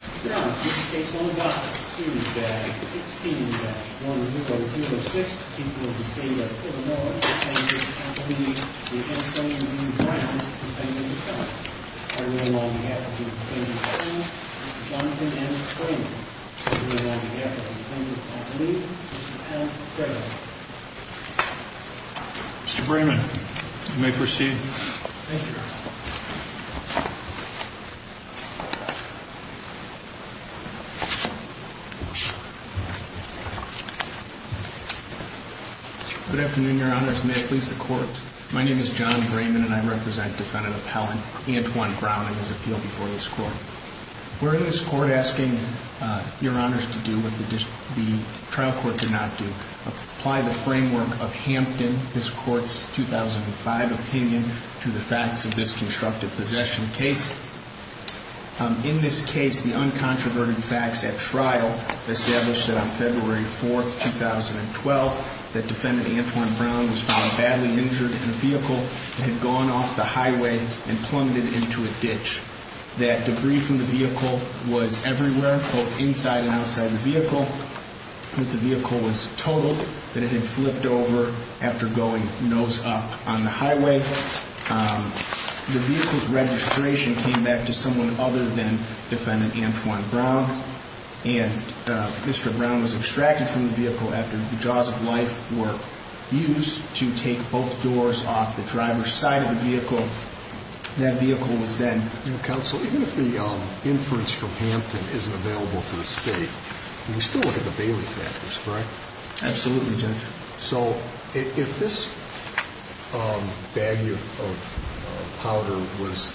16-1006 People of the state of Illinois, defendant Anthony B. Brown, defendant of the felony. On behalf of the defendant's family, Mr. Jonathan S. Brayman. On behalf of the defendant's family, Mr. Al Frederick. Mr. Brayman, you may proceed. Thank you, Your Honor. Good afternoon, Your Honors. May it please the Court. My name is John Brayman, and I represent defendant appellant Antwon Brown in his appeal before this Court. We're in this Court asking Your Honors to do what the trial court did not do, apply the framework of Hampton, this Court's 2005 opinion, to the facts of this constructive possession case. In this case, the uncontroverted facts at trial established that on February 4, 2012, that defendant Antwon Brown was found badly injured in a vehicle that had gone off the highway and plummeted into a ditch. That debris from the vehicle was everywhere, both inside and outside the vehicle. That the vehicle was totaled, that it had flipped over after going nose up on the highway. The vehicle's registration came back to someone other than defendant Antwon Brown, and Mr. Brown was extracted from the vehicle after the jaws of life were used to take both doors off the driver's side of the vehicle. That vehicle was then... Counsel, even if the inference from Hampton isn't available to the State, we still look at the Bailey factors, correct? Absolutely, Judge. So, if this bag of powder was...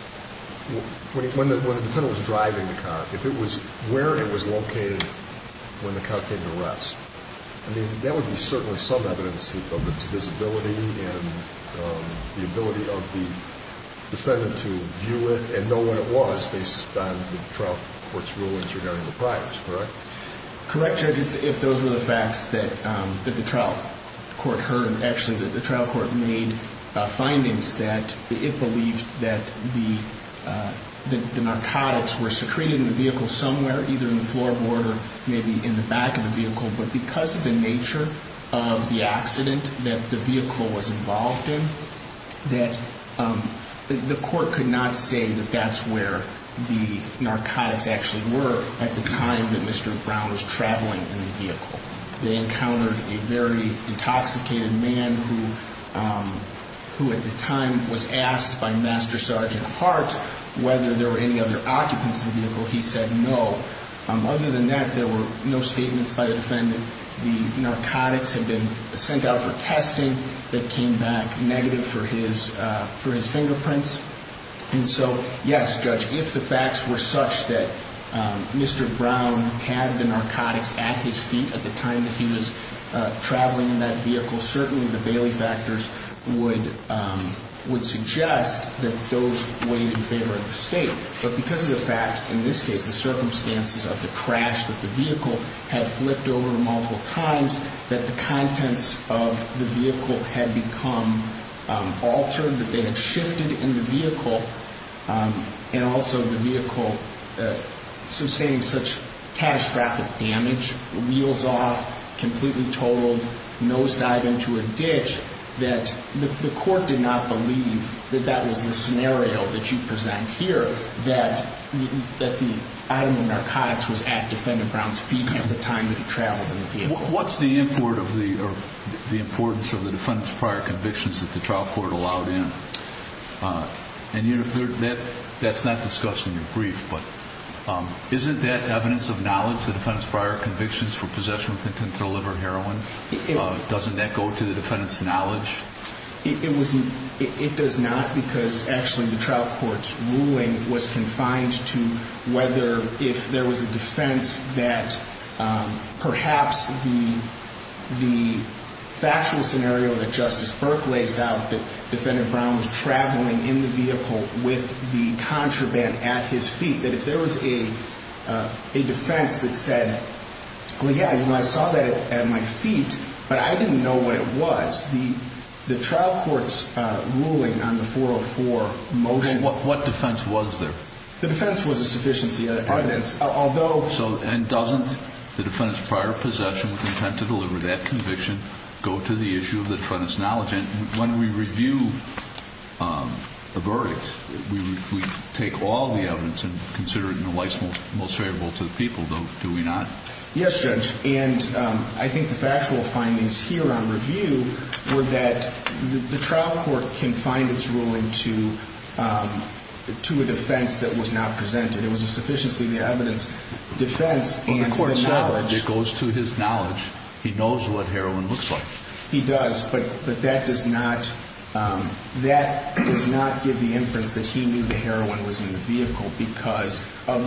When the defendant was driving the car, if it was where it was located when the car came to rest, I mean, that would be certainly some evidence of its visibility and the ability of the defendant to view it and know where it was based on the trial court's rulings regarding the priors, correct? Correct, Judge, if those were the facts that the trial court heard. Actually, the trial court made findings that it believed that the narcotics were secreted in the vehicle somewhere, either in the floorboard or maybe in the back of the vehicle. But because of the nature of the accident that the vehicle was involved in, that the court could not say that that's where the narcotics actually were at the time that Mr. Brown was traveling in the vehicle. They encountered a very intoxicated man who, at the time, was asked by Master Sergeant Hart whether there were any other occupants in the vehicle. He said no. Other than that, there were no statements by the defendant. The narcotics had been sent out for testing that came back negative for his fingerprints. And so, yes, Judge, if the facts were such that Mr. Brown had the narcotics at his feet at the time that he was traveling in that vehicle, certainly the Bailey factors would suggest that those weighed in favor of the state. But because of the facts, in this case the circumstances of the crash that the vehicle had flipped over multiple times, that the contents of the vehicle had become altered, that they had shifted in the vehicle, and also the vehicle sustaining such catastrophic damage, wheels off, completely totaled, that the court did not believe that that was the scenario that you present here, that the item of narcotics was at Defendant Brown's feet at the time that he traveled in the vehicle. What's the importance of the defendant's prior convictions that the trial court allowed in? And that's not discussed in your brief, but isn't that evidence of knowledge, of the defendant's prior convictions for possession with intent to deliver heroin? Doesn't that go to the defendant's knowledge? It does not because, actually, the trial court's ruling was confined to whether, if there was a defense that perhaps the factual scenario that Justice Burke lays out, that Defendant Brown was traveling in the vehicle with the contraband at his feet, that if there was a defense that said, well, yeah, you know, I saw that at my feet, but I didn't know what it was, the trial court's ruling on the 404 motion. What defense was there? The defense was a sufficiency of evidence, although... And doesn't the defendant's prior possession with intent to deliver that conviction go to the issue of the defendant's knowledge? Judge, when we review the verdict, we take all the evidence and consider it in the light that's most favorable to the people, though, do we not? Yes, Judge, and I think the factual findings here on review were that the trial court confined its ruling to a defense that was not presented. It was a sufficiency of the evidence defense and the knowledge. Well, the court said if it goes to his knowledge, he knows what heroin looks like. He does, but that does not give the inference that he knew the heroin was in the vehicle because of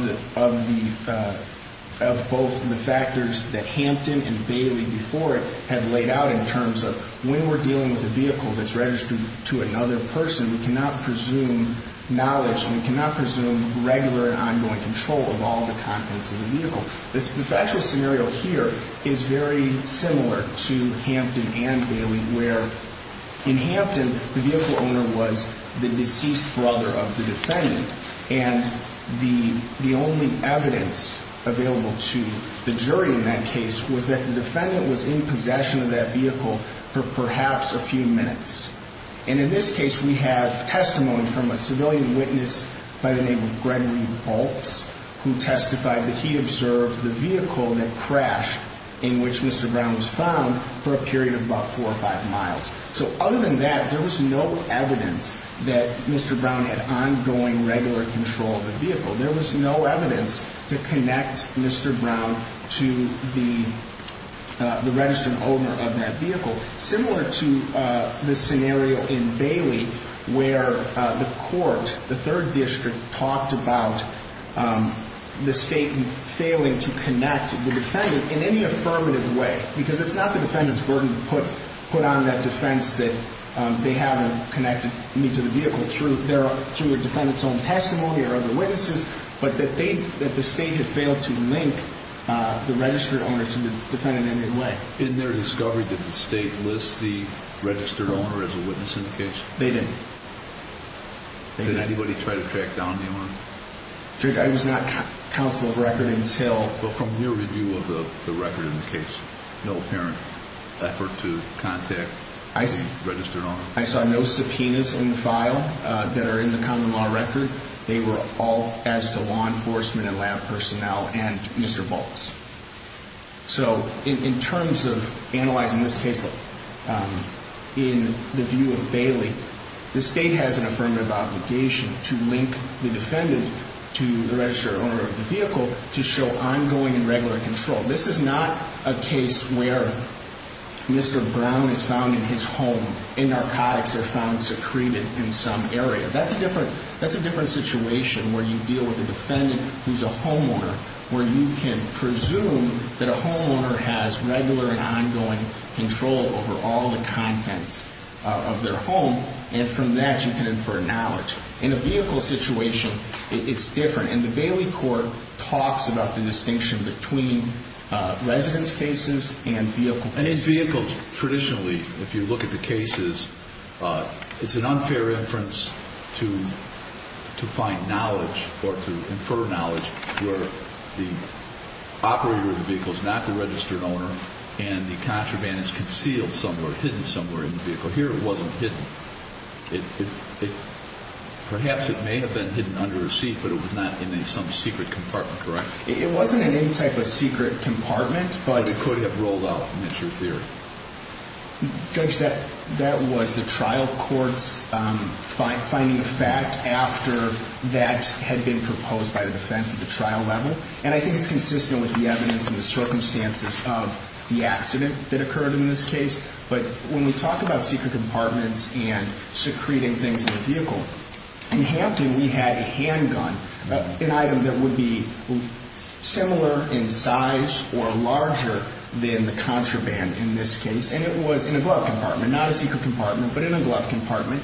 both the factors that Hampton and Bailey before it had laid out in terms of when we're dealing with a vehicle that's registered to another person, we cannot presume knowledge and we cannot presume regular and ongoing control of all the contents of the vehicle. The factual scenario here is very similar to Hampton and Bailey, where in Hampton the vehicle owner was the deceased brother of the defendant and the only evidence available to the jury in that case was that the defendant was in possession of that vehicle for perhaps a few minutes. And in this case, we have testimony from a civilian witness by the name of Gregory Baltz who testified that he observed the vehicle that crashed in which Mr. Brown was found for a period of about four or five miles. So other than that, there was no evidence that Mr. Brown had ongoing regular control of the vehicle. There was no evidence to connect Mr. Brown to the registered owner of that vehicle. Similar to the scenario in Bailey where the court, the third district, talked about the state failing to connect the defendant in any affirmative way because it's not the defendant's burden to put on that defense that they haven't connected me to the vehicle through a defendant's own testimony or other witnesses, but that the state had failed to link the registered owner to the defendant in any way. In their discovery, did the state list the registered owner as a witness in the case? They didn't. Did anybody try to track down the owner? Judge, I was not counsel of record until... But from your review of the record in the case, no apparent effort to contact the registered owner? I saw no subpoenas in the file that are in the common law record. They were all as to law enforcement and lab personnel and Mr. Baltz. So in terms of analyzing this case in the view of Bailey, the state has an affirmative obligation to link the defendant to the registered owner of the vehicle to show ongoing and regular control. This is not a case where Mr. Brown is found in his home and narcotics are found secreted in some area. That's a different situation where you deal with a defendant who's a homeowner where you can presume that a homeowner has regular and ongoing control over all the contents of their home and from that you can infer knowledge. In a vehicle situation, it's different. And the Bailey court talks about the distinction between residence cases and vehicle cases. And in vehicles, traditionally, if you look at the cases, it's an unfair inference to find knowledge or to infer knowledge where the operator of the vehicle is not the registered owner and the contraband is concealed somewhere, hidden somewhere in the vehicle. Here it wasn't hidden. Perhaps it may have been hidden under a seat, but it was not in some secret compartment, correct? It wasn't in any type of secret compartment. But it could have rolled out, and that's your theory. Judge, that was the trial court's finding of fact after that had been proposed by the defense at the trial level. And I think it's consistent with the evidence and the circumstances of the accident that occurred in this case. But when we talk about secret compartments and secreting things in a vehicle, in Hampton we had a handgun, an item that would be similar in size or larger than the contraband in this case. And it was in a glove compartment, not a secret compartment, but in a glove compartment.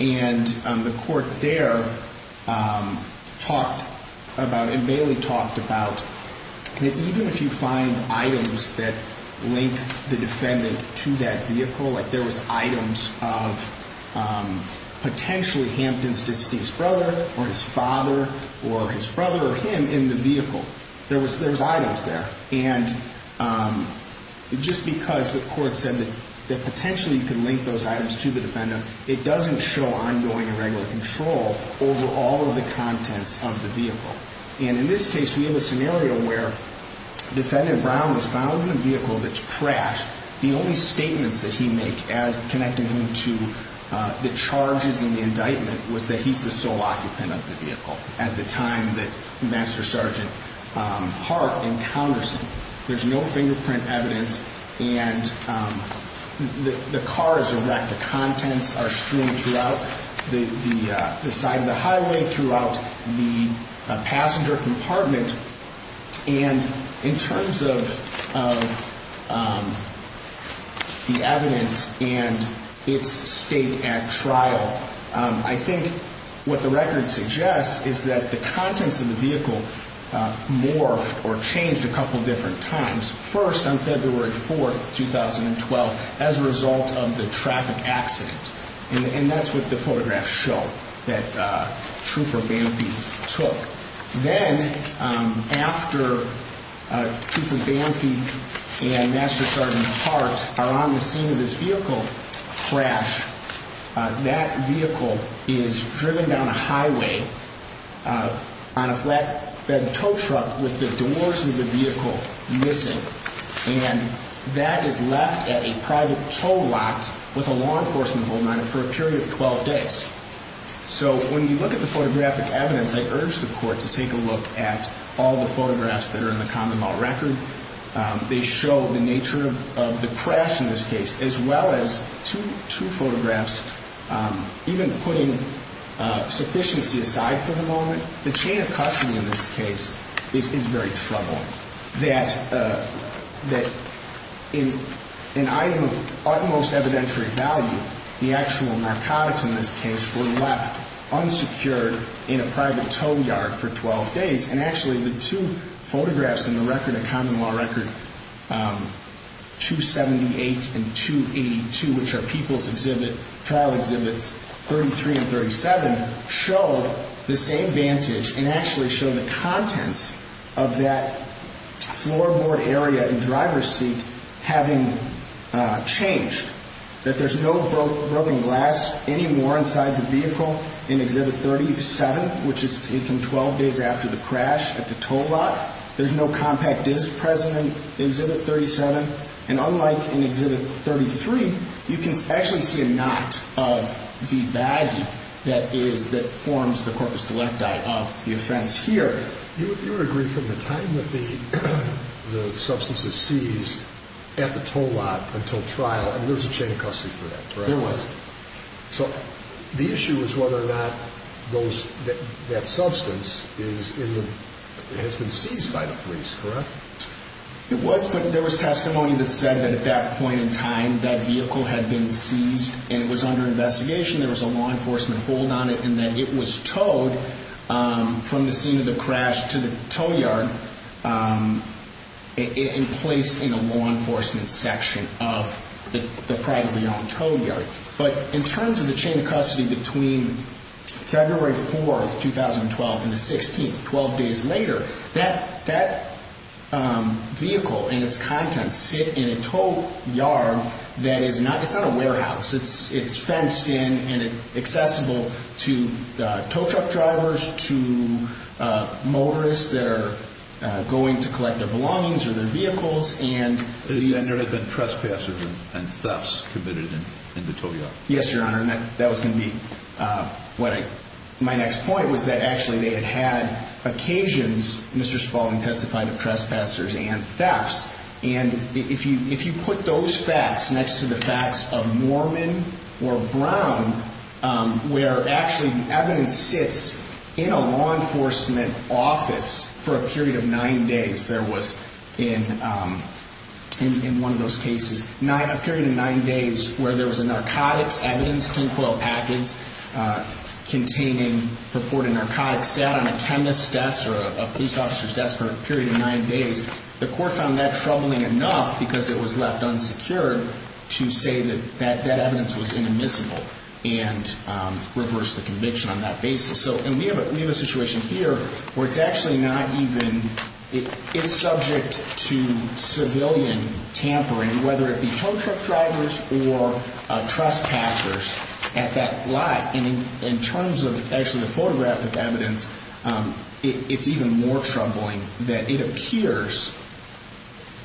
And the court there talked about, and Bailey talked about, that even if you find items that link the defendant to that vehicle, like there was items of potentially Hampton's deceased brother or his father or his brother or him in the vehicle, there was items there. And just because the court said that potentially you could link those items to the defendant, it doesn't show ongoing and regular control over all of the contents of the vehicle. And in this case we have a scenario where defendant Brown was found in a vehicle that's crashed. The only statements that he make connecting him to the charges and the indictment was that he's the sole occupant of the vehicle at the time that Master Sergeant Hart encounters him. There's no fingerprint evidence, and the car is wrecked. The contents are strewn throughout the side of the highway, throughout the passenger compartment. And in terms of the evidence and its state at trial, I think what the record suggests is that the contents of the vehicle morphed or changed a couple of different times. First, on February 4, 2012, as a result of the traffic accident. And that's what the photographs show that Trooper Bamfy took. Then after Trooper Bamfy and Master Sergeant Hart are on the scene of this vehicle crash, that vehicle is driven down a highway on a flatbed tow truck with the doors of the vehicle missing. And that is left at a private tow lot with a law enforcement hold on it for a period of 12 days. So when you look at the photographic evidence, I urge the court to take a look at all the photographs that are in the Commonwealth Record. They show the nature of the crash in this case, as well as two photographs. Even putting sufficiency aside for the moment, the chain of custody in this case is very troubled. That in an item of utmost evidentiary value, the actual narcotics in this case were left unsecured in a private tow yard for 12 days. And actually, the two photographs in the record, the Commonwealth Record 278 and 282, which are people's exhibit, trial exhibits 33 and 37, show the same vantage and actually show the contents of that floorboard area and driver's seat having changed. That there's no broken glass anymore inside the vehicle in exhibit 37, which is taken 12 days after the crash at the tow lot. There's no compact disc present in exhibit 37. And unlike in exhibit 33, you can actually see a knot of the baggie that forms the corpus delicti of the offense here. You would agree from the time that the substance is seized at the tow lot until trial, there was a chain of custody for that, correct? There was. So the issue is whether or not that substance has been seized by the police, correct? It was, but there was testimony that said that at that point in time, that vehicle had been seized and it was under investigation, there was a law enforcement hold on it, and that it was towed from the scene of the crash to the tow yard and placed in a law enforcement section of the privately owned tow yard. But in terms of the chain of custody between February 4, 2012, and the 16th, 12 days later, that vehicle and its contents sit in a tow yard that is not a warehouse. It's fenced in and accessible to tow truck drivers, to motorists that are going to collect their belongings or their vehicles. And there had been trespassers and thefts committed in the tow yard. Yes, Your Honor, and that was going to be my next point, was that actually they had had occasions, Mr. Spalding testified, of trespassers and thefts. And if you put those facts next to the facts of Mormon or Brown, where actually evidence sits in a law enforcement office for a period of nine days, there was in one of those cases, a period of nine days where there was a narcotics evidence, containing purported narcotics sat on a chemist's desk or a police officer's desk for a period of nine days. The court found that troubling enough, because it was left unsecured, to say that that evidence was inadmissible and reverse the conviction on that basis. And we have a situation here where it's actually not even, it's subject to civilian tampering, whether it be tow truck drivers or trespassers at that lot. And in terms of actually the photographic evidence, it's even more troubling that it appears,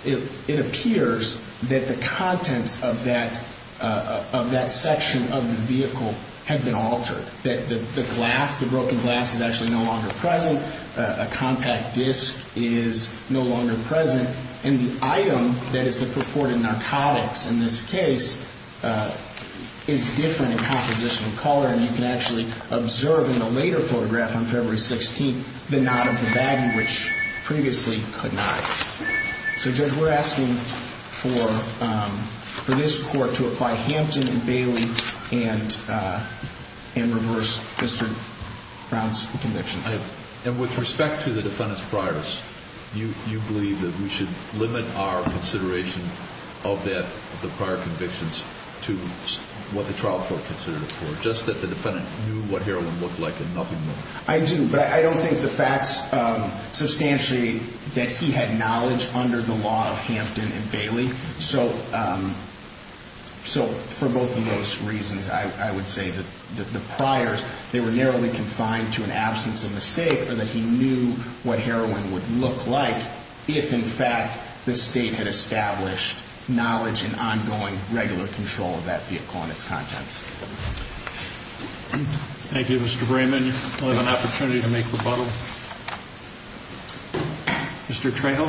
it appears that the contents of that section of the vehicle have been altered, that the glass, the broken glass is actually no longer present, a compact disk is no longer present, and the item that is the purported narcotics in this case is different in composition and color, and you can actually observe in the later photograph on February 16th the knot of the baggy, which previously could not. So, Judge, we're asking for this court to apply Hampton and Bailey and reverse Mr. Brown's convictions. And with respect to the defendant's priors, you believe that we should limit our consideration of that, the prior convictions, to what the trial court considered it for, just that the defendant knew what heroin looked like and nothing more? I do, but I don't think the facts substantially that he had knowledge under the law of Hampton and Bailey. So for both of those reasons, I would say that the priors, they were narrowly confined to an absence of mistake or that he knew what heroin would look like if, in fact, the State had established knowledge and ongoing regular control of that vehicle and its contents. Thank you, Mr. Brayman. You'll have an opportunity to make rebuttal. Mr. Trejo?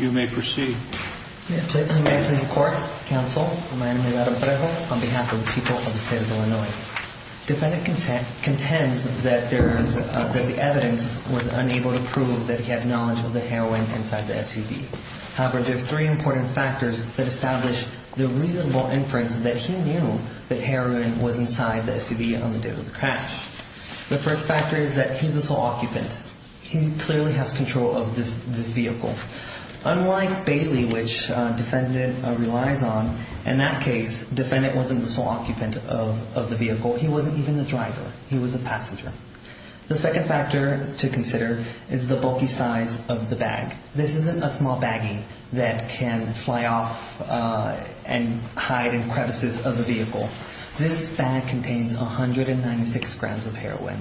You may proceed. May it please the Court, Counsel, my name is Adam Trejo on behalf of the people of the State of Illinois. Defendant contends that the evidence was unable to prove that he had knowledge of the heroin inside the SUV. However, there are three important factors that establish the reasonable inference that he knew that heroin was inside the SUV on the day of the crash. The first factor is that he's the sole occupant. He clearly has control of this vehicle. Unlike Bailey, which defendant relies on, in that case, defendant wasn't the sole occupant of the vehicle. He wasn't even the driver. He was a passenger. The second factor to consider is the bulky size of the bag. This isn't a small baggie that can fly off and hide in crevices of the vehicle. This bag contains 196 grams of heroin.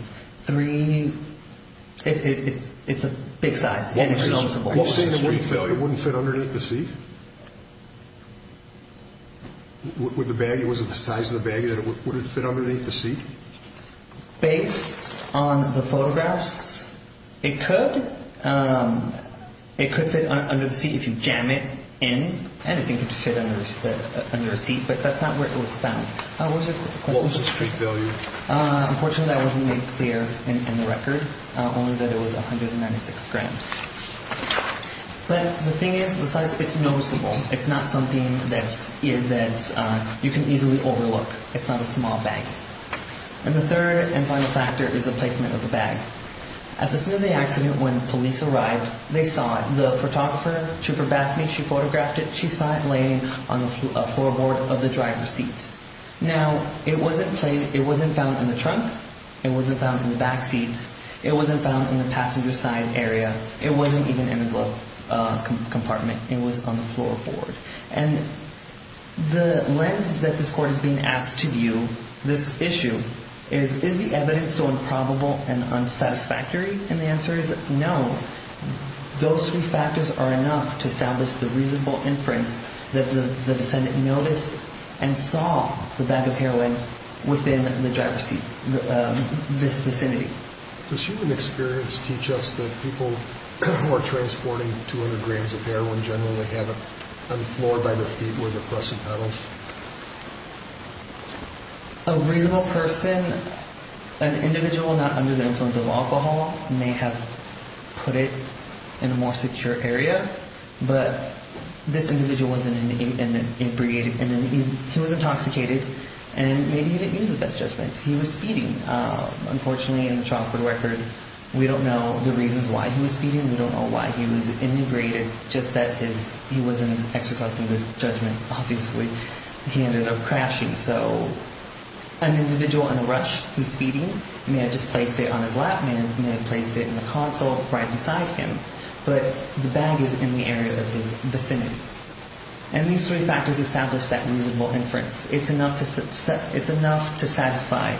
It's a big size. Are you saying it wouldn't fit underneath the seat? Was it the size of the baggie that it wouldn't fit underneath the seat? Based on the photographs, it could. It could fit under the seat if you jam it in. Anything could fit under a seat, but that's not where it was found. What was the street value? Unfortunately, that wasn't made clear in the record, only that it was 196 grams. But the thing is, the size, it's noticeable. It's not something that you can easily overlook. It's not a small baggie. And the third and final factor is the placement of the bag. At the scene of the accident, when police arrived, they saw it. The photographer, Trooper Baffney, she photographed it. She saw it laying on the floorboard of the driver's seat. Now, it wasn't found in the trunk. It wasn't found in the backseat. It wasn't found in the passenger side area. It wasn't even in the compartment. It was on the floorboard. And the lens that this court is being asked to view this issue is, is the evidence so improbable and unsatisfactory? And the answer is no. Those three factors are enough to establish the reasonable inference that the defendant noticed and saw the bag of heroin within the driver's seat, this vicinity. Does human experience teach us that people who are transporting 200 grams of heroin generally have it on the floor by their feet where they're pressing pedals? A reasonable person, an individual not under the influence of alcohol, may have put it in a more secure area. But this individual was intoxicated, and maybe he didn't use the best judgment. He was speeding. Unfortunately, in the trial court record, we don't know the reasons why he was speeding. We don't know why he was inebriated, just that he wasn't exercising good judgment, obviously. He ended up crashing. So an individual in a rush, he's speeding. He may have just placed it on his lap. He may have placed it in the console right beside him. But the bag is in the area of his vicinity. And these three factors establish that reasonable inference. It's enough to satisfy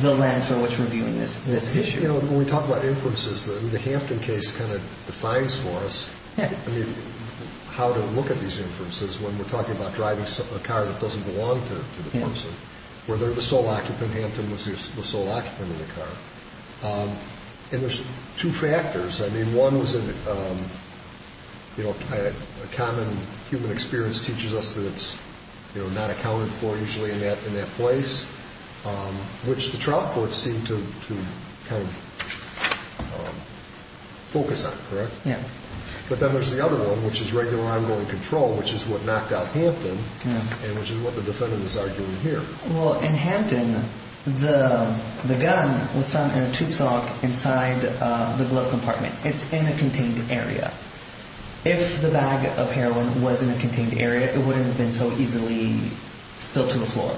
the lens for which we're viewing this issue. When we talk about inferences, the Hampton case kind of defines for us how to look at these inferences when we're talking about driving a car that doesn't belong to the person, whether the sole occupant, Hampton, was the sole occupant in the car. And there's two factors. I mean, one was a common human experience teaches us that it's not accounted for usually in that place, which the trial court seemed to kind of focus on, correct? Yeah. But then there's the other one, which is regular ongoing control, which is what knocked out Hampton and which is what the defendant is arguing here. Well, in Hampton, the gun was found in a tube sock inside the glove compartment. It's in a contained area. If the bag of heroin was in a contained area, it wouldn't have been so easily spilled to the floor.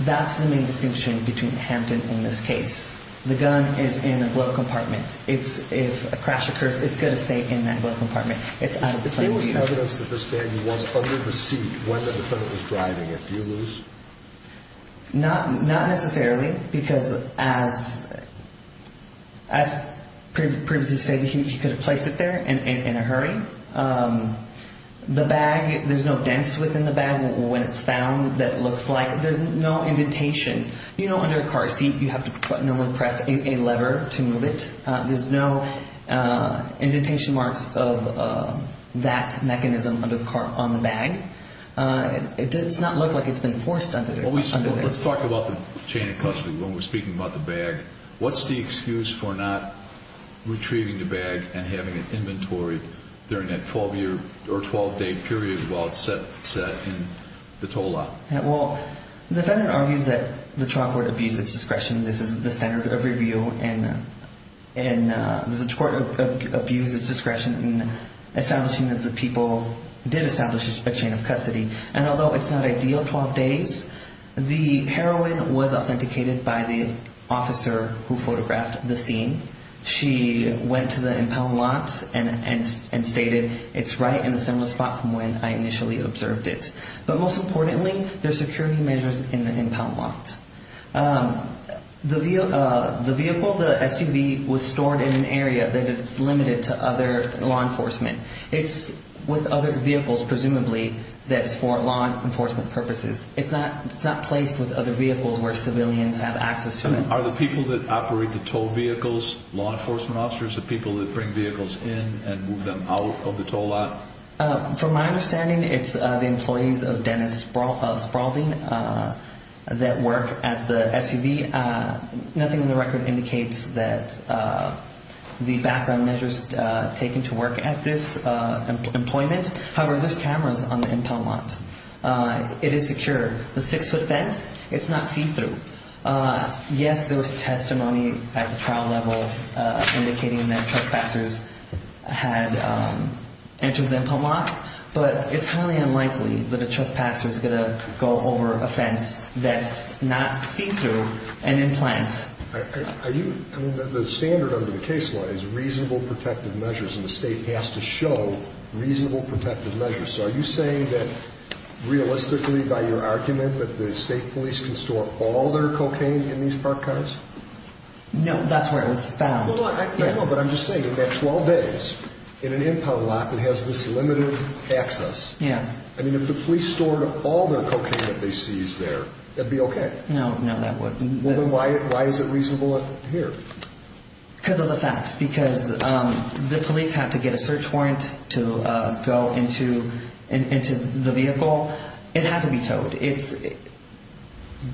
That's the main distinction between Hampton and this case. The gun is in a glove compartment. If a crash occurs, it's going to stay in that glove compartment. If there was evidence that this bag was under the seat when the defendant was driving, if you lose? Not necessarily, because as previously stated, he could have placed it there in a hurry. The bag, there's no dents within the bag when it's found that looks like. There's no indentation. You know, under a car seat, you have to press a lever to move it. There's no indentation marks of that mechanism under the car on the bag. It does not look like it's been forced under there. Let's talk about the chain of custody when we're speaking about the bag. What's the excuse for not retrieving the bag and having it inventory during that 12-year or 12-day period while it's set in the tow lot? Well, the defendant argues that the trial court abused its discretion. This is the standard of review, and the court abused its discretion in establishing that the people did establish a chain of custody. And although it's not ideal 12 days, the heroin was authenticated by the officer who photographed the scene. She went to the impound lot and stated, it's right in a similar spot from when I initially observed it. But most importantly, there's security measures in the impound lot. The vehicle, the SUV, was stored in an area that is limited to other law enforcement. It's with other vehicles, presumably, that's for law enforcement purposes. It's not placed with other vehicles where civilians have access to it. Are the people that operate the tow vehicles law enforcement officers, the people that bring vehicles in and move them out of the tow lot? From my understanding, it's the employees of Dennis Spaulding that work at the SUV. Nothing in the record indicates that the background measures taken to work at this employment. However, there's cameras on the impound lot. It is secure. The six-foot fence, it's not see-through. Yes, there was testimony at the trial level indicating that trespassers had entered the impound lot. But it's highly unlikely that a trespasser is going to go over a fence that's not see-through and in place. The standard under the case law is reasonable protective measures, and the state has to show reasonable protective measures. Are you saying that, realistically, by your argument, that the state police can store all their cocaine in these park cars? No, that's where it was found. But I'm just saying, in that 12 days, in an impound lot that has this limited access, I mean, if the police stored all their cocaine that they seized there, it'd be okay. No, no, that wouldn't. Well, then why is it reasonable here? Because of the facts. Because the police had to get a search warrant to go into the vehicle. It had to be towed. It's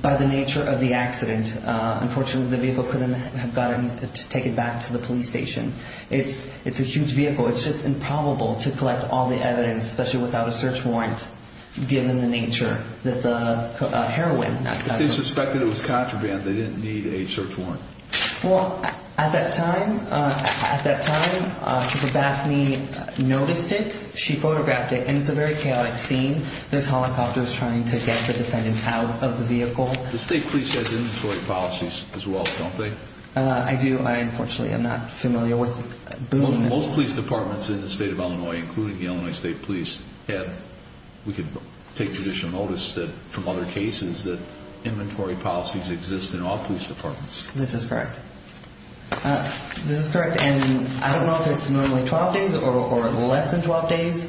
by the nature of the accident. Unfortunately, the vehicle couldn't have gotten taken back to the police station. It's a huge vehicle. It's just improbable to collect all the evidence, especially without a search warrant, given the nature of the heroin. If they suspected it was contraband, they didn't need a search warrant. Well, at that time, at that time, Chief Bethany noticed it. She photographed it. And it's a very chaotic scene. There's helicopters trying to get the defendants out of the vehicle. The state police has inventory policies as well, don't they? I do. Unfortunately, I'm not familiar with them. Most police departments in the state of Illinois, including the Illinois State Police, had, we could take judicial notice that, from other cases, that inventory policies exist in all police departments. This is correct. This is correct. And I don't know if it's normally 12 days or less than 12 days.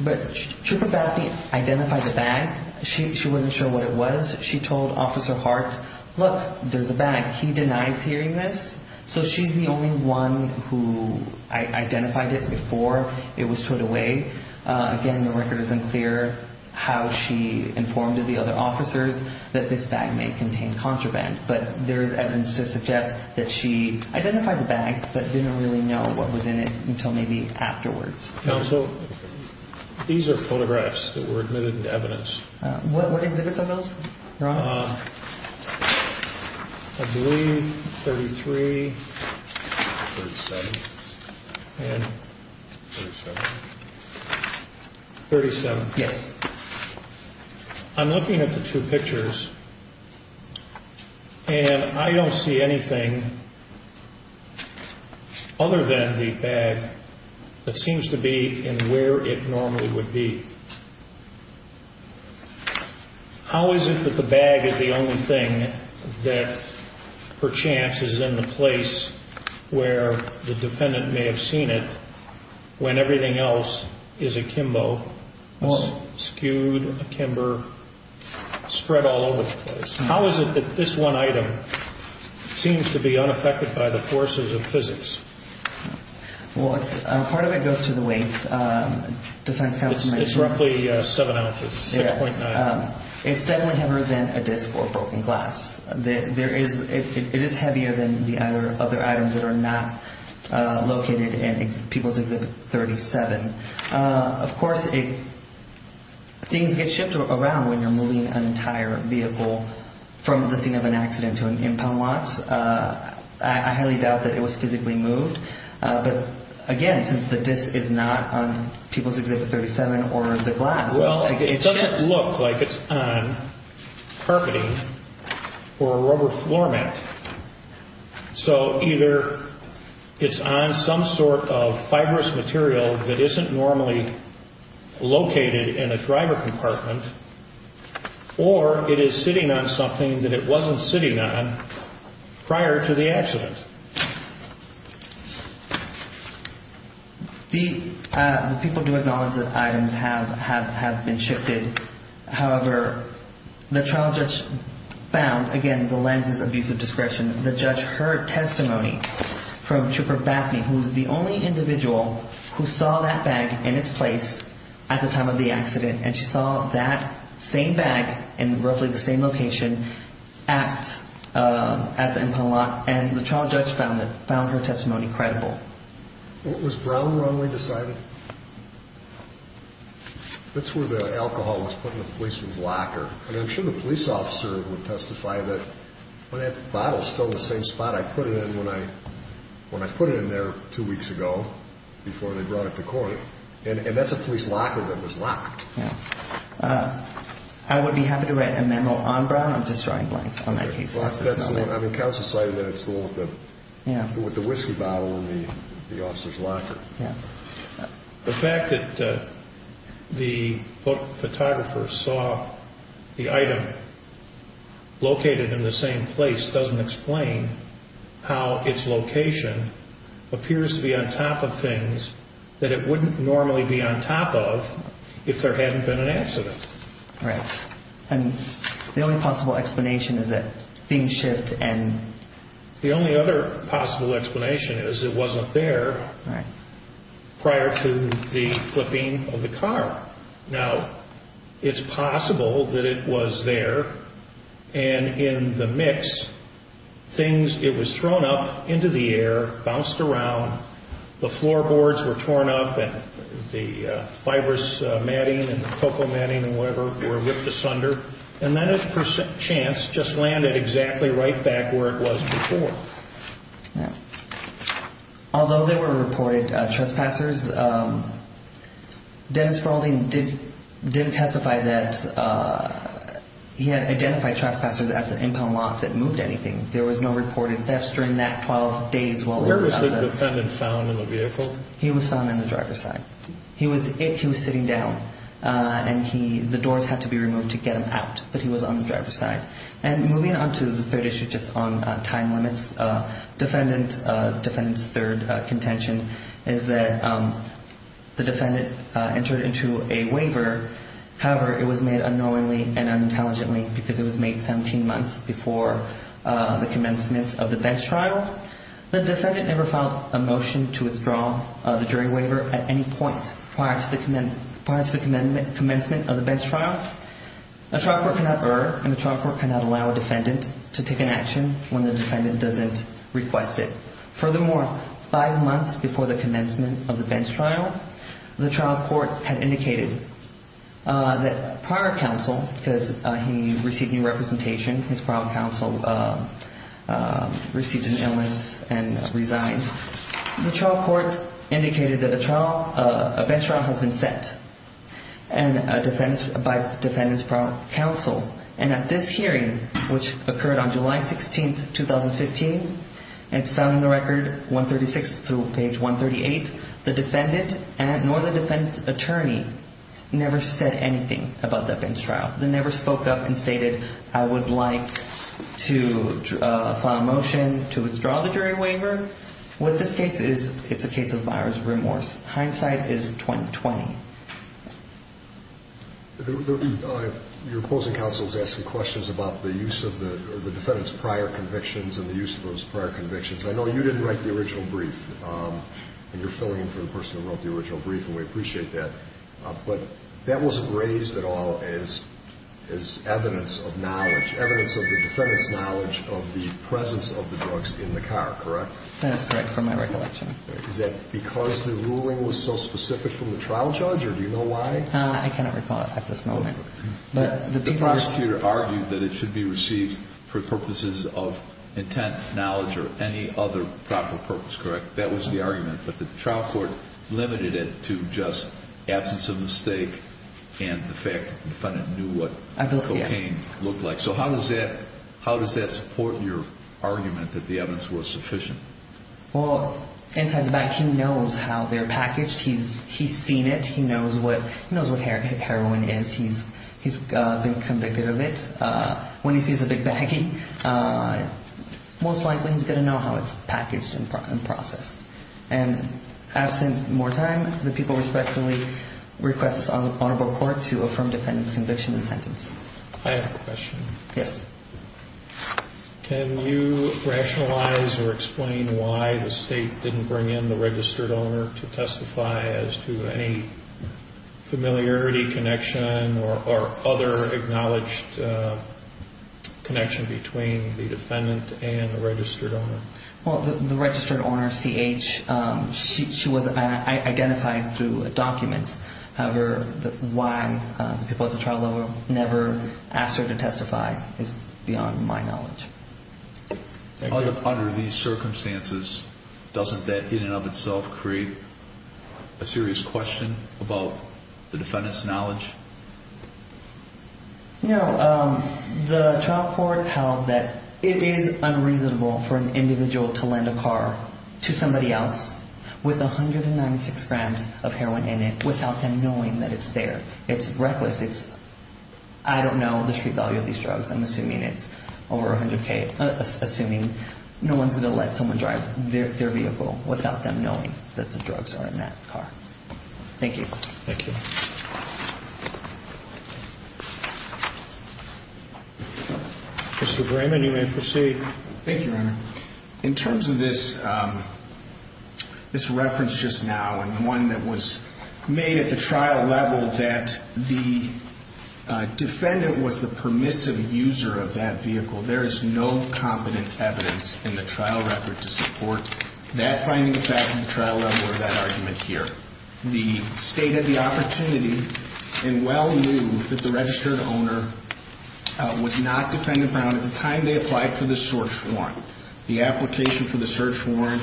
But Chief Bethany identified the bag. She wasn't sure what it was. She told Officer Hart, look, there's a bag. He denies hearing this. So she's the only one who identified it before it was towed away. Again, the record isn't clear how she informed the other officers that this bag may contain contraband. But there is evidence to suggest that she identified the bag but didn't really know what was in it until maybe afterwards. Counsel, these are photographs that were admitted into evidence. What exhibits are those, Your Honor? I believe 33, 37, and 37. 37. Yes. I'm looking at the two pictures, and I don't see anything other than the bag that seems to be in where it normally would be. How is it that the bag is the only thing that, per chance, is in the place where the defendant may have seen it when everything else is akimbo, skewed, akimbo, spread all over the place? How is it that this one item seems to be unaffected by the forces of physics? Well, part of it goes to the weight. It's roughly 7 ounces, 6.9. It's definitely heavier than a disc or a broken glass. It is heavier than the other items that are not located in People's Exhibit 37. Of course, things get shipped around when you're moving an entire vehicle from the scene of an accident to an impound lot. I highly doubt that it was physically moved. But, again, since the disc is not on People's Exhibit 37 or the glass, it ships. Well, it doesn't look like it's on carpeting or a rubber floor mat. So either it's on some sort of fibrous material that isn't normally located in a driver compartment, or it is sitting on something that it wasn't sitting on prior to the accident. The people do acknowledge that items have been shifted. However, the trial judge found, again, the lenses of use of discretion. The judge heard testimony from Trooper Baffney, who's the only individual who saw that bag in its place at the time of the accident, and she saw that same bag in roughly the same location at the impound lot, and the trial judge found her testimony credible. Was Brown wrongly decided? That's where the alcohol was put in the policeman's locker. And I'm sure the police officer would testify that, well, that bottle's still in the same spot I put it in when I put it in there two weeks ago before they brought it to court. And that's a police locker that was locked. I would be happy to write a memo on Brown on destroying blanks on that case. I mean, counsel cited that it's the one with the whiskey bottle in the officer's locker. The fact that the photographer saw the item located in the same place doesn't explain how its location appears to be on top of things that it wouldn't normally be on top of if there hadn't been an accident. Right. And the only possible explanation is that things shift and... The only other possible explanation is it wasn't there prior to the flipping of the car. Now, it's possible that it was there. And in the mix, things, it was thrown up into the air, bounced around. The floorboards were torn up and the fibrous matting and the focal matting and whatever were ripped asunder. And then it, per chance, just landed exactly right back where it was before. Although there were reported trespassers, Dennis Spaulding didn't testify that he had identified trespassers at the impound lot that moved anything. There was no reported thefts during that 12 days while... Where was the defendant found in the vehicle? He was found in the driver's side. He was sitting down and the doors had to be removed to get him out, but he was on the driver's side. And moving on to the third issue, just on time limits. Defendant's third contention is that the defendant entered into a waiver. However, it was made unknowingly and unintelligently because it was made 17 months before the commencement of the bench trial. The defendant never filed a motion to withdraw the jury waiver at any point prior to the commencement of the bench trial. A trial court cannot err and a trial court cannot allow a defendant to take an action when the defendant doesn't request it. Furthermore, five months before the commencement of the bench trial, the trial court had indicated that prior counsel, because he received new representation, his prior counsel received an illness and resigned. The trial court indicated that a trial, a bench trial has been set by defendant's prior counsel. And at this hearing, which occurred on July 16th, 2015, and it's found in the record 136 through page 138, the defendant nor the defendant's attorney never said anything about the bench trial. They never spoke up and stated, I would like to file a motion to withdraw the jury waiver. What this case is, it's a case of buyer's remorse. Hindsight is 20. Your opposing counsel is asking questions about the use of the defendant's prior convictions and the use of those prior convictions. I know you didn't write the original brief, and you're filling in for the person who wrote the original brief, and we appreciate that. But that wasn't raised at all as evidence of knowledge, evidence of the defendant's knowledge of the presence of the drugs in the car, correct? That is correct, from my recollection. Is that because the ruling was so specific from the trial judge, or do you know why? I cannot recall it at this moment. The prosecutor argued that it should be received for purposes of intent, knowledge, or any other proper purpose, correct? That was the argument. But the trial court limited it to just absence of mistake and the fact that the defendant knew what cocaine looked like. So how does that support your argument that the evidence was sufficient? Well, inside the bank, he knows how they're packaged. He's seen it. He knows what heroin is. He's been convicted of it. When he sees a big baggie, most likely he's going to know how it's packaged and processed. And absent more time, the people respectfully request this honorable court to affirm defendant's conviction and sentence. I have a question. Yes. Can you rationalize or explain why the state didn't bring in the registered owner to testify as to any familiarity connection or other acknowledged connection between the defendant and the registered owner? Well, the registered owner, C.H., she was identified through documents. However, why the people at the trial level never asked her to testify is beyond my knowledge. Under these circumstances, doesn't that in and of itself create a serious question about the defendant's knowledge? No. The trial court held that it is unreasonable for an individual to lend a car to somebody else with 196 grams of heroin in it without them knowing that it's there. It's reckless. It's I don't know the street value of these drugs. I'm assuming it's over 100K, assuming no one's going to let someone drive their vehicle without them knowing that the drugs are in that car. Thank you. Thank you. Mr. Brayman, you may proceed. Thank you, Your Honor. In terms of this reference just now and the one that was made at the trial level that the defendant was the permissive user of that vehicle, there is no competent evidence in the trial record to support that finding of fact at the trial level or that argument here. The State had the opportunity and well knew that the registered owner was not Defendant Brown at the time they applied for the search warrant. The application for the search warrant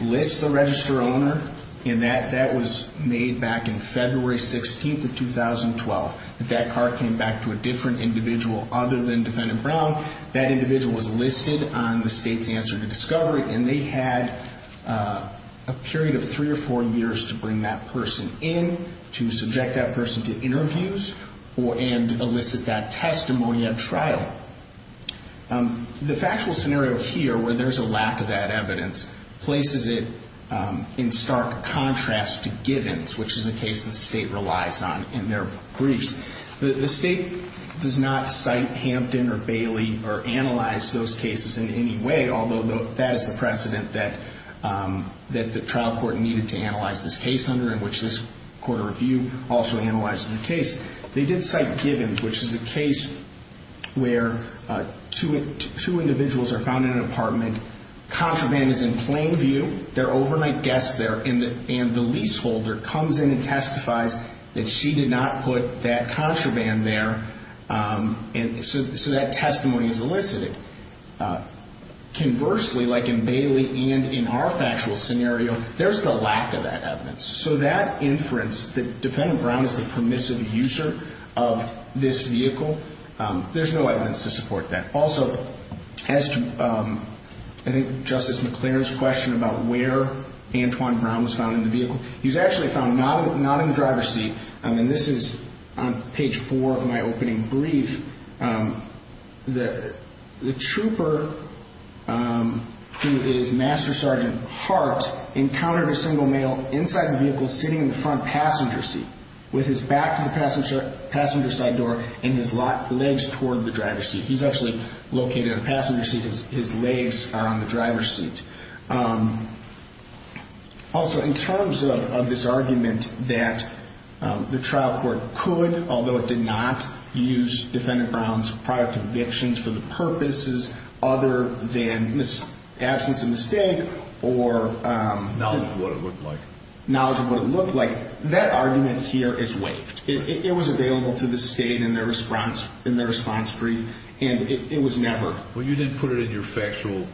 lists the registered owner, and that was made back in February 16th of 2012. If that car came back to a different individual other than Defendant Brown, that individual was listed on the State's answer to discovery, and they had a period of three or four years to bring that person in, to subject that person to interviews, and elicit that testimony at trial. The factual scenario here where there's a lack of that evidence places it in stark contrast to Givens, which is a case the State relies on in their briefs. The State does not cite Hampton or Bailey or analyze those cases in any way, although that is the precedent that the trial court needed to analyze this case under, and which this Court of Review also analyzes the case. They did cite Givens, which is a case where two individuals are found in an apartment, contraband is in plain view, there are overnight guests there, and the leaseholder comes in and testifies that she did not put that contraband there, and so that testimony is elicited. Conversely, like in Bailey and in our factual scenario, there's the lack of that evidence. So that inference that Defendant Brown is the permissive user of this vehicle, there's no evidence to support that. Also, as to I think Justice McClaren's question about where Antwon Brown was found in the vehicle, he's actually found not in the driver's seat, and this is on page four of my opening brief. The trooper, who is Master Sergeant Hart, encountered a single male inside the vehicle sitting in the front passenger seat, with his back to the passenger side door and his legs toward the driver's seat. He's actually located in the passenger seat, his legs are on the driver's seat. Also, in terms of this argument that the trial court could, although it did not, use Defendant Brown's prior convictions for the purposes other than absence of mistake or knowledge of what it looked like, that argument here is waived. It was available to the State in their response brief, and it was never. Well, you didn't put it in your factual,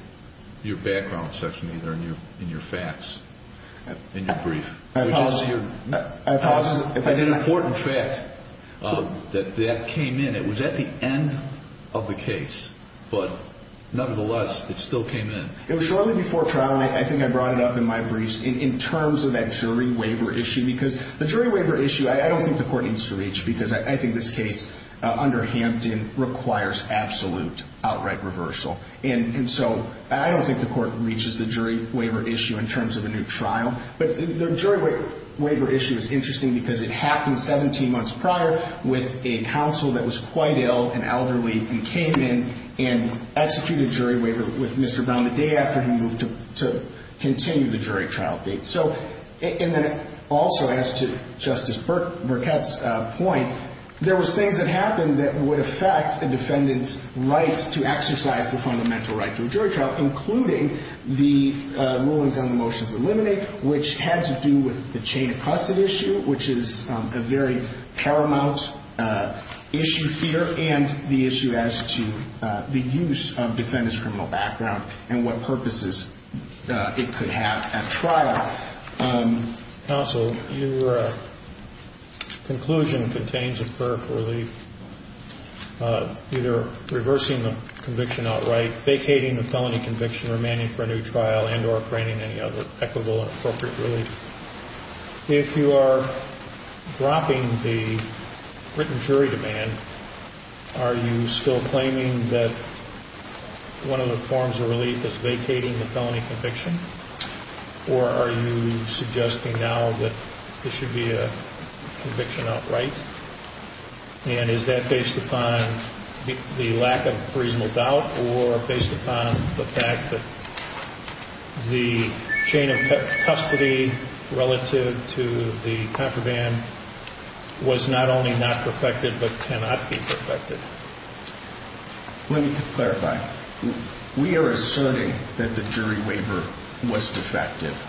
your background section either, in your facts, in your brief. I apologize if I did not. It's an important fact that that came in. It was at the end of the case, but nevertheless, it still came in. It was shortly before trial, I think I brought it up in my brief, in terms of that jury waiver issue, because the jury waiver issue, I don't think the court needs to reach, because I think this case under Hampton requires absolute outright reversal. And so I don't think the court reaches the jury waiver issue in terms of a new trial. But the jury waiver issue is interesting because it happened 17 months prior with a counsel that was quite ill and elderly and came in and executed jury waiver with Mr. Brown the day after he moved to continue the jury trial date. So, and then also as to Justice Burkett's point, there was things that happened that would affect a defendant's right to exercise the fundamental right to a jury trial, including the rulings on the motions eliminated, which had to do with the chain of custody issue, which is a very paramount issue here, and the issue as to the use of defendant's criminal background and what purposes it could have at trial. Counsel, your conclusion contains a prayer for relief, either reversing the conviction outright, vacating the felony conviction, remaining for a new trial, and or granting any other equitable and appropriate relief. If you are dropping the written jury demand, are you still claiming that one of the forms of relief is vacating the felony conviction? Or are you suggesting now that there should be a conviction outright? And is that based upon the lack of reasonable doubt or based upon the fact that the chain of custody relative to the contraband was not only not perfected, but cannot be perfected? Let me clarify. We are asserting that the jury waiver was defective.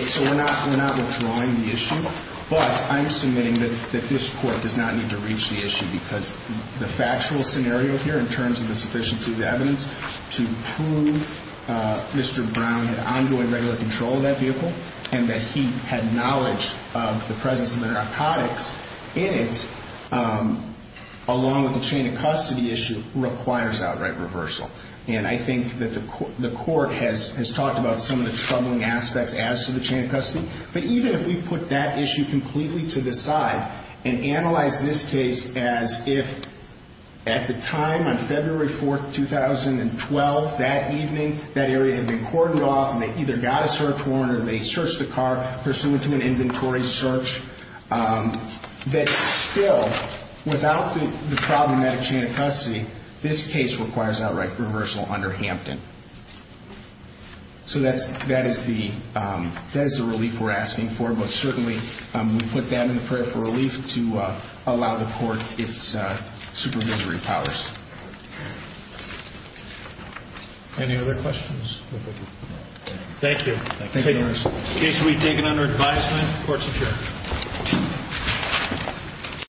So we're not withdrawing the issue, but I'm submitting that this court does not need to reach the issue because the factual scenario here in terms of the sufficiency of the evidence to prove Mr. Brown had ongoing regular control of that vehicle and that he had knowledge of the presence of the narcotics in it, along with the chain of custody issue, requires outright reversal. And I think that the court has talked about some of the troubling aspects as to the chain of custody. But even if we put that issue completely to the side and analyze this case as if at the time on February 4, 2012, that evening, that area had been cordoned off and they either got a search warrant or they searched the car, pursuant to an inventory search, that still, without the problematic chain of custody, this case requires outright reversal under Hampton. So that is the relief we're asking for. But certainly, we put that in the prayer for relief to allow the court its supervisory powers. Any other questions? Thank you. The case will be taken under advisement. Court is adjourned.